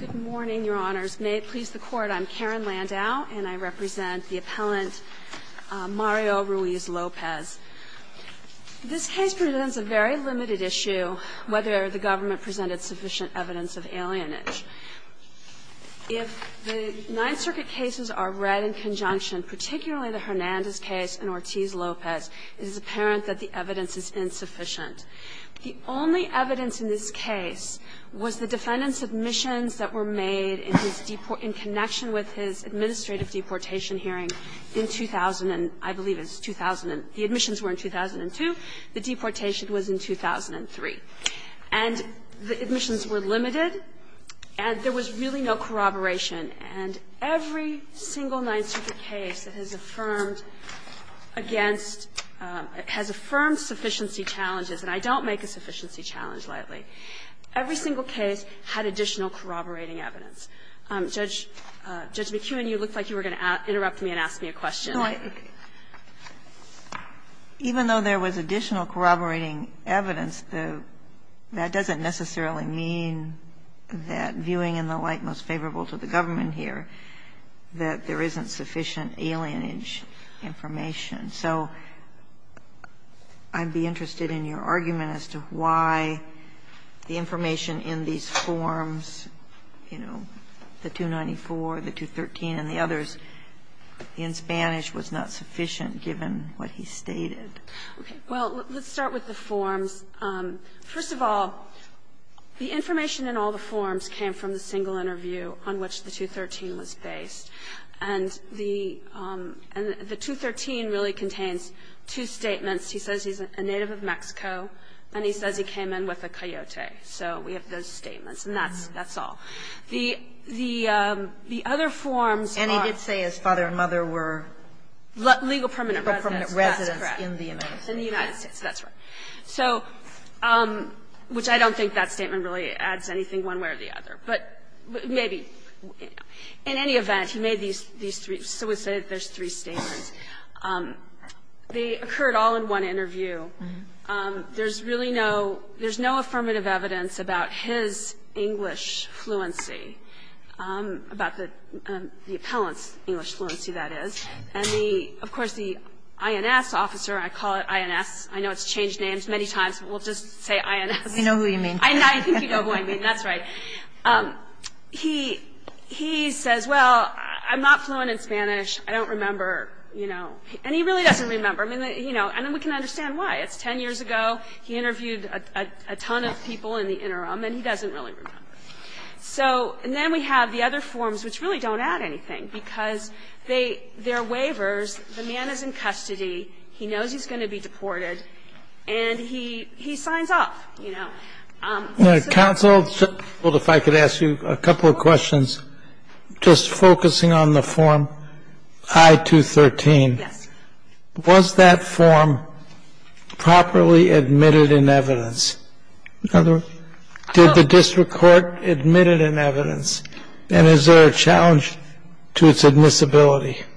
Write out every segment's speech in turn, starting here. Good morning, Your Honors. May it please the Court, I'm Karen Landau, and I represent the appellant Mario Ruiz-Lopez. This case presents a very limited issue, whether the government presented sufficient evidence of alienage. If the Ninth Circuit cases are read in conjunction, particularly the Hernandez case and Ortiz-Lopez, it is apparent that the evidence is insufficient. The only evidence in this case was the defendant's admissions that were made in his deport – in connection with his administrative deportation hearing in 2000, and I believe it's 2000 – the admissions were in 2002. The deportation was in 2003. And the admissions were limited, and there was really no corroboration. And every single Ninth Circuit case that has affirmed against – has affirmed sufficiency challenges, and I don't make a sufficiency challenge lightly, every single case had additional corroborating evidence. Judge McKeown, you looked like you were going to interrupt me and ask me a question. McKeown No, I – even though there was additional corroborating evidence, that doesn't necessarily mean that, viewing in the light most favorable to the government here, that there isn't sufficient alienage information. So I'd be interested in your argument as to why the information in these forms, you know, the 294, the 213, and the others, in Spanish, was not sufficient, given what he stated. Harrington Well, let's start with the forms. First of all, the information in all the forms came from the single interview on which the 213 was based. And the – and the 213 really contains two statements. He says he's a native of Mexico, and he says he came in with a coyote. So we have those statements. And that's – that's all. The – the other forms are – Kagan And he did say his father and mother were – Harrington Legal permanent residents, that's correct. Kagan Legal permanent residents in the United States. Harrington In the United States, that's right. So – which I don't think that statement really adds anything one way or the other. But maybe – in any event, he made these three – so we say there's three statements. They occurred all in one interview. There's really no – there's no affirmative evidence about his English fluency, about the – the appellant's English fluency, that is. And the – of course, the INS officer – I call it INS. I know it's changed names many times, but we'll just say INS. Kagan We know who you mean. Harrington I think you know who I mean. That's right. He – he says, well, I'm not fluent in Spanish. I don't remember, you know. And he really doesn't remember. I mean, you know, and then we can understand why. It's 10 years ago. He interviewed a ton of people in the interim, and he doesn't really remember. So – and then we have the other forms, which really don't add anything, because they – they're waivers. The man is in custody. And he – he signs off, you know. Kennedy And counsel, if I could ask you a couple of questions, just focusing on the form I-213. Harrington Yes. Kennedy Was that form properly admitted in evidence? In other words, did the district court admit it in evidence? And is there a challenge to its admissibility? Harrington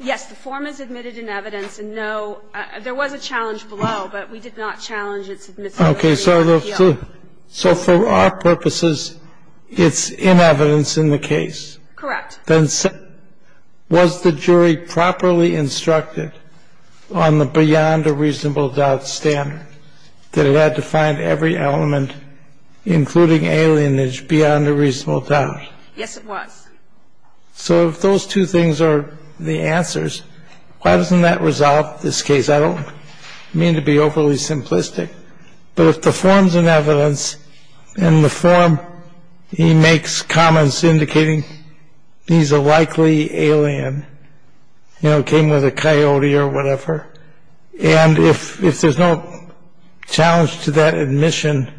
Yes. The form is admitted in evidence, and no – there was a challenge below, but we did not challenge its admissibility. Kennedy Okay. So – so for our purposes, it's in evidence in the case? Harrington Correct. Kennedy Then was the jury properly instructed on the beyond a reasonable doubt standard that it had to find every element, including alienage, beyond a reasonable doubt? Harrington Yes, it was. Kennedy So if those two things are the answers, why doesn't that resolve this case? I don't mean to be overly simplistic. But if the form's in evidence, and the form – he makes comments indicating he's a likely alien, you know, came with a coyote or whatever, and if – if there's no challenge to that admission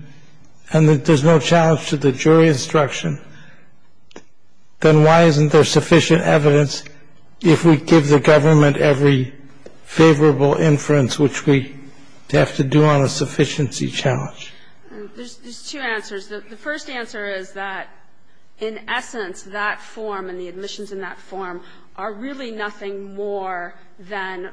and that there's no challenge to the jury instruction, then why isn't there sufficient evidence if we give the government every favorable inference, which we have to do on a sufficiency challenge? Harrington There's two answers. The first answer is that, in essence, that form and the admissions in that form are really nothing more than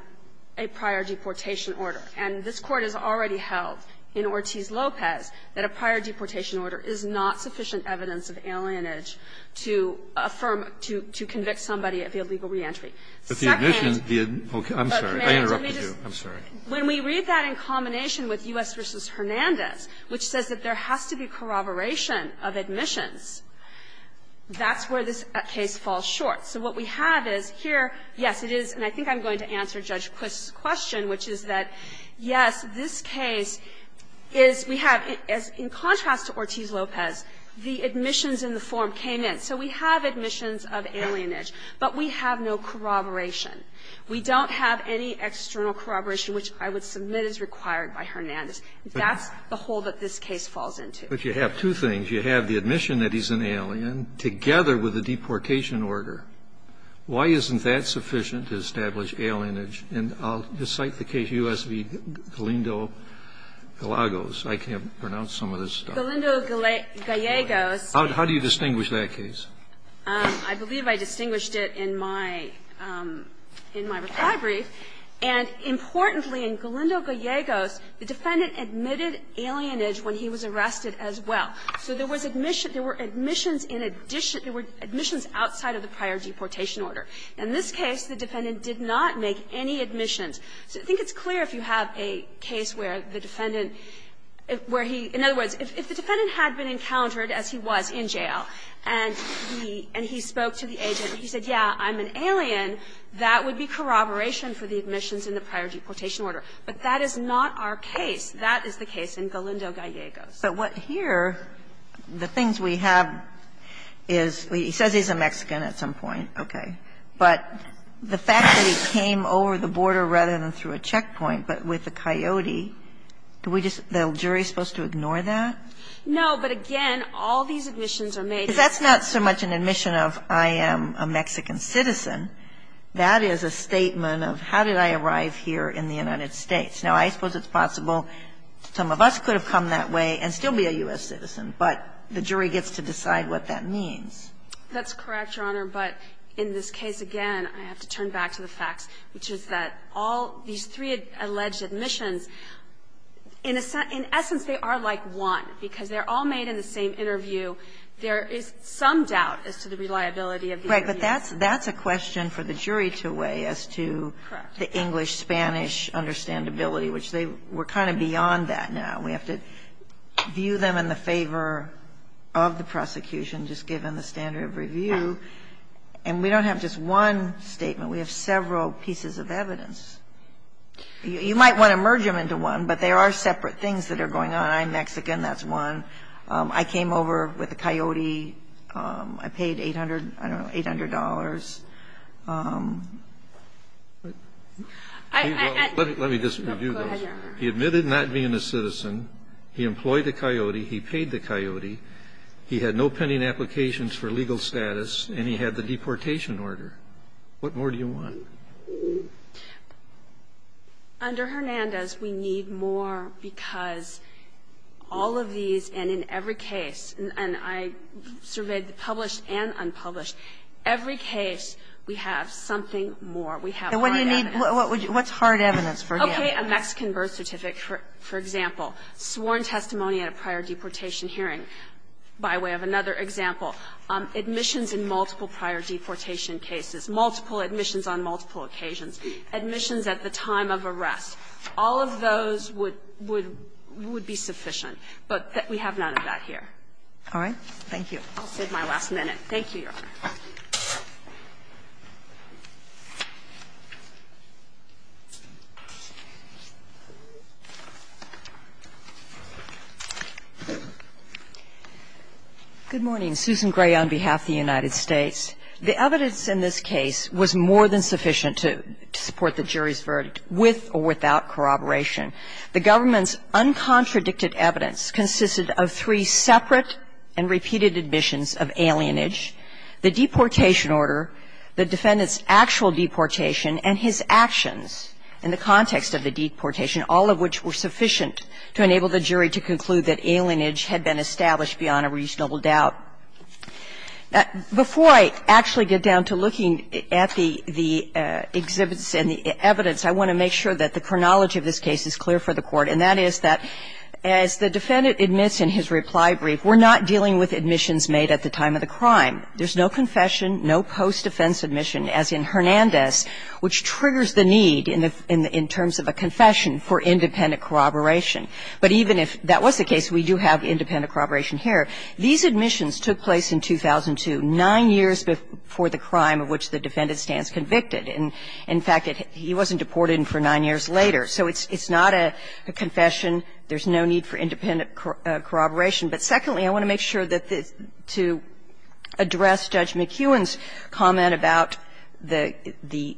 a prior deportation order. And this Court has already held in Ortiz-Lopez that a prior deportation order is not sufficient evidence of alienage to affirm – to convict somebody of illegal reentry. Second – Kennedy But the admission – I'm sorry. I interrupted you. I'm sorry. Harrington When we read that in combination with U.S. v. Hernandez, which says that there has to be corroboration of admissions, that's where this case falls short. So what we have is here, yes, it is, and I think I'm going to answer Judge Quist's question, which is that, yes, this case is – we have, as in contrast to Ortiz-Lopez, the admissions in the form came in. So we have admissions of alienage, but we have no corroboration. We don't have any external corroboration, which I would submit is required by Hernandez. That's the hole that this case falls into. Kennedy But you have two things. You have the admission that he's an alien, together with the deportation order. Why isn't that sufficient to establish alienage? And I'll just cite the case U.S. v. Galindo-Gallegos. I can't pronounce some of this stuff. Harrington Galindo-Gallegos – Kennedy How do you distinguish that case? Harrington Galindo-Gallegos I believe I distinguished it in my – in my reply brief. And importantly, in Galindo-Gallegos, the defendant admitted alienage when he was arrested as well. So there was admission – there were admissions in addition – there were admissions outside of the prior deportation order. In this case, the defendant did not make any admissions. So I think it's clear if you have a case where the defendant – where he – in other words, if the defendant had been encountered as he was in jail, and the defendant was the – and he spoke to the agent, and he said, yeah, I'm an alien, that would be corroboration for the admissions in the prior deportation order. But that is not our case. That is the case in Galindo-Gallegos. Kagan But what here – the things we have is – he says he's a Mexican at some point, okay. But the fact that he came over the border rather than through a checkpoint, but with a coyote, do we just – the jury is supposed to ignore that? Harrington No. But again, all these admissions are made – Kagan Because that's not so much an admission of, I am a Mexican citizen. That is a statement of, how did I arrive here in the United States? Now, I suppose it's possible some of us could have come that way and still be a U.S. citizen, but the jury gets to decide what that means. Harrington That's correct, Your Honor. But in this case, again, I have to turn back to the facts, which is that all these three alleged admissions, in essence, they are like one, because they're all made in the same interview. There is some doubt as to the reliability of these reviews. Kagan Right, but that's a question for the jury to weigh as to the English-Spanish understandability, which they were kind of beyond that now. We have to view them in the favor of the prosecution, just given the standard of review. And we don't have just one statement. We have several pieces of evidence. You might want to merge them into one, but there are separate things that are going on. I'm Mexican. That's one. I came over with a coyote. I paid 800, I don't know, $800. Kennedy Let me just review this. He admitted not being a citizen. He employed the coyote. He paid the coyote. He had no pending applications for legal status, and he had the deportation order. What more do you want? Under Hernandez, we need more because all of these, and in every case, and I surveyed the published and unpublished, every case we have something more. We have more evidence. Kagan And what do you need to do, what's hard evidence for him? Kagan Okay, a Mexican birth certificate, for example. Sworn testimony at a prior deportation hearing, by way of another example. Admissions in multiple prior deportation cases. Multiple admissions on multiple occasions. Admissions at the time of arrest. All of those would be sufficient, but we have none of that here. Kagan All right. Thank you. Kagan I'll save my last minute. Thank you, Your Honor. Susan Gray Good morning. Susan Gray on behalf of the United States. The evidence in this case was more than sufficient to support the jury's verdict with or without corroboration. The government's uncontradicted evidence consisted of three separate and repeated admissions of alienage, the deportation order, the defendant's actual deportation, and his actions in the context of the deportation, all of which were sufficient to enable the jury to conclude that alienage had been established beyond a reasonable doubt. Before I actually get down to looking at the exhibits and the evidence, I want to make sure that the chronology of this case is clear for the Court, and that is that as the defendant admits in his reply brief, we're not dealing with admissions made at the time of the crime. There's no confession, no post-defense admission, as in Hernandez, which triggers the need in terms of a confession for independent corroboration. But even if that was the case, we do have independent corroboration here. These admissions took place in 2002, nine years before the crime of which the defendant stands convicted. And, in fact, he wasn't deported for nine years later. So it's not a confession. There's no need for independent corroboration. But secondly, I want to make sure that to address Judge McEwen's comment about the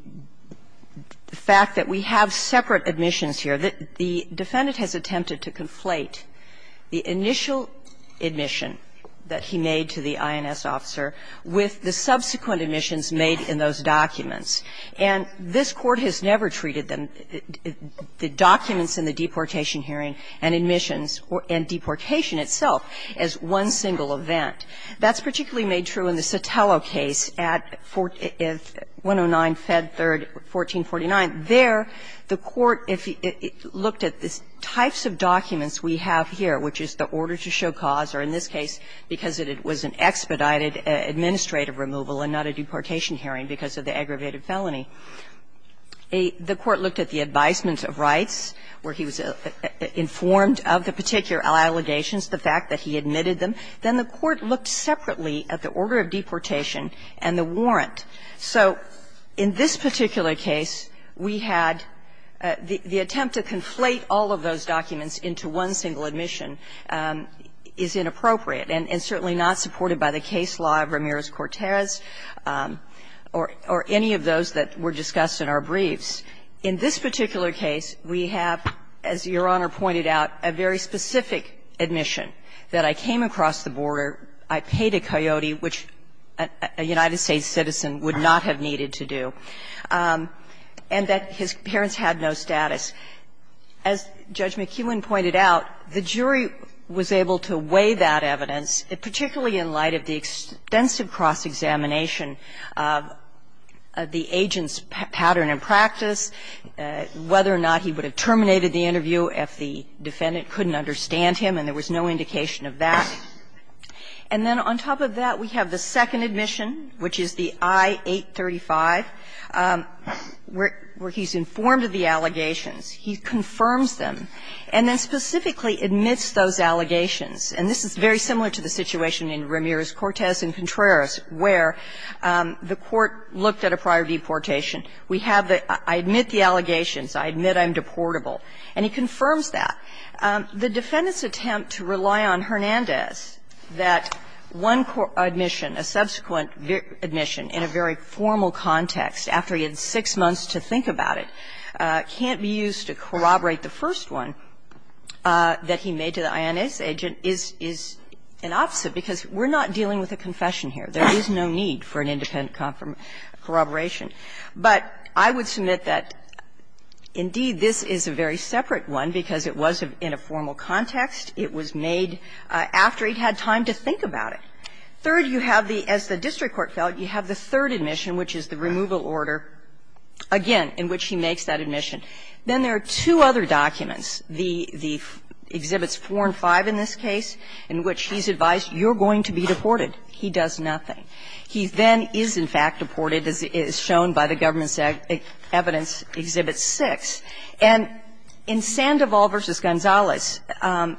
fact that we have separate admissions here, that the defendant has attempted to conflate the initial admission that he made to the INS officer with the subsequent admissions made in those documents. And this Court has never treated them, the documents in the deportation hearing and admissions and deportation itself, as one single event. That's particularly made true in the Sotelo case at 109, Fed 3rd, 1449. There, the Court, if it looked at the types of documents we have here, which is the order to show cause, or in this case, because it was an expedited administrative removal and not a deportation hearing because of the aggravated felony, the Court looked at the advisement of rights, where he was informed of the particular allegations, the fact that he admitted them. Then the Court looked separately at the order of deportation and the warrant. So in this particular case, we had the attempt to conflate all of those documents into one single admission is inappropriate and certainly not supported by the case law of Ramirez-Cortez or any of those that were discussed in our briefs. In this particular case, we have, as Your Honor pointed out, a very specific admission, that I came across the border, I paid a coyote, which a United States citizen would not have needed to do, and that his parents had no status. As Judge McKeown pointed out, the jury was able to weigh that evidence, particularly in light of the extensive cross-examination of the agent's pattern and practice, whether or not he would have terminated the interview if the defendant couldn't understand him, and there was no indication of that. And then on top of that, we have the second admission, which is the I-835, where he's informed of the allegations. He confirms them and then specifically admits those allegations. And this is very similar to the situation in Ramirez-Cortez and Contreras, where the Court looked at a prior deportation. We have the, I admit the allegations, I admit I'm deportable, and he confirms that. The defendant's attempt to rely on Hernandez, that one admission, a subsequent admission in a very formal context after he had six months to think about it, can't be used to corroborate the first one that he made to the INS agent, is an opposite, because we're not dealing with a confession here. There is no need for an independent corroboration. But I would submit that, indeed, this is a very separate one, because it was in a formal context, it was made after he had time to think about it. Third, you have the, as the district court felt, you have the third admission, which is the removal order, again, in which he makes that admission. Then there are two other documents, the Exhibits 4 and 5 in this case, in which he's advised you're going to be deported. He does nothing. He then is, in fact, deported, as is shown by the government's evidence, Exhibit 6. And in Sandoval v. Gonzalez,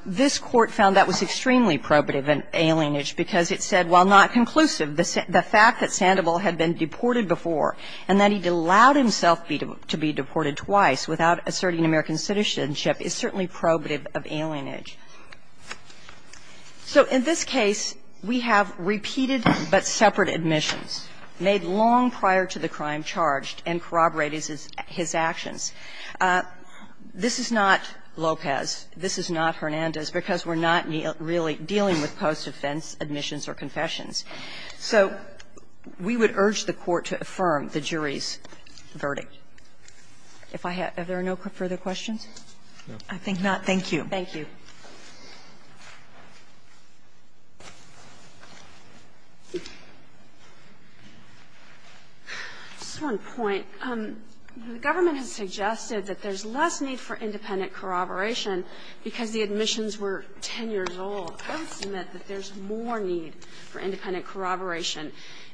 this Court found that was extremely probative of alienage, because it said, while not conclusive, the fact that Sandoval had been deported before and that he'd allowed himself to be deported twice without asserting American citizenship is certainly probative of alienage. So in this case, we have repeated but separate admissions made long prior to the crime charged and corroborated as his actions. This is not Lopez. This is not Hernandez, because we're not really dealing with post-offense admissions or confessions. So we would urge the Court to affirm the jury's verdict. If I have no further questions? I think not. Thank you. Thank you. Just one point. The government has suggested that there's less need for independent corroboration because the admissions were 10 years old. I would submit that there's more need for independent corroboration.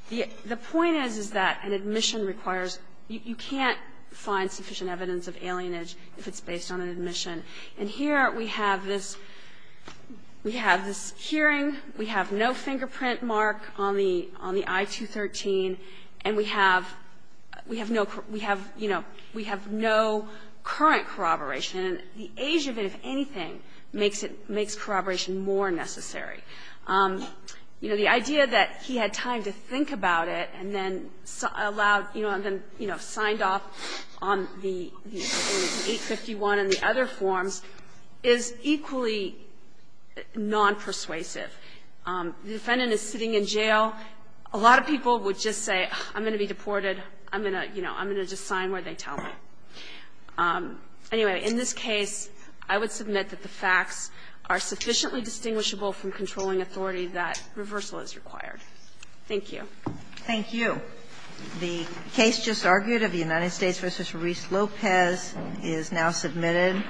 The point is, is that an admission requires you can't find sufficient evidence of alienage if it's based on an admission. And here we have this we have this hearing. We have no fingerprint mark on the on the I-213, and we have we have no, we have, you know, we have no current corroboration. And the age of it, if anything, makes it makes corroboration more necessary. You know, the idea that he had time to think about it and then allowed, you know, signed off on the 851 and the other forms is equally nonpersuasive. The defendant is sitting in jail. A lot of people would just say, I'm going to be deported. I'm going to, you know, I'm going to just sign where they tell me. Anyway, in this case, I would submit that the facts are sufficiently distinguishable from controlling authority that reversal is required. Thank you. Thank you. The case just argued of the United States v. Ruiz-Lopez is now submitted.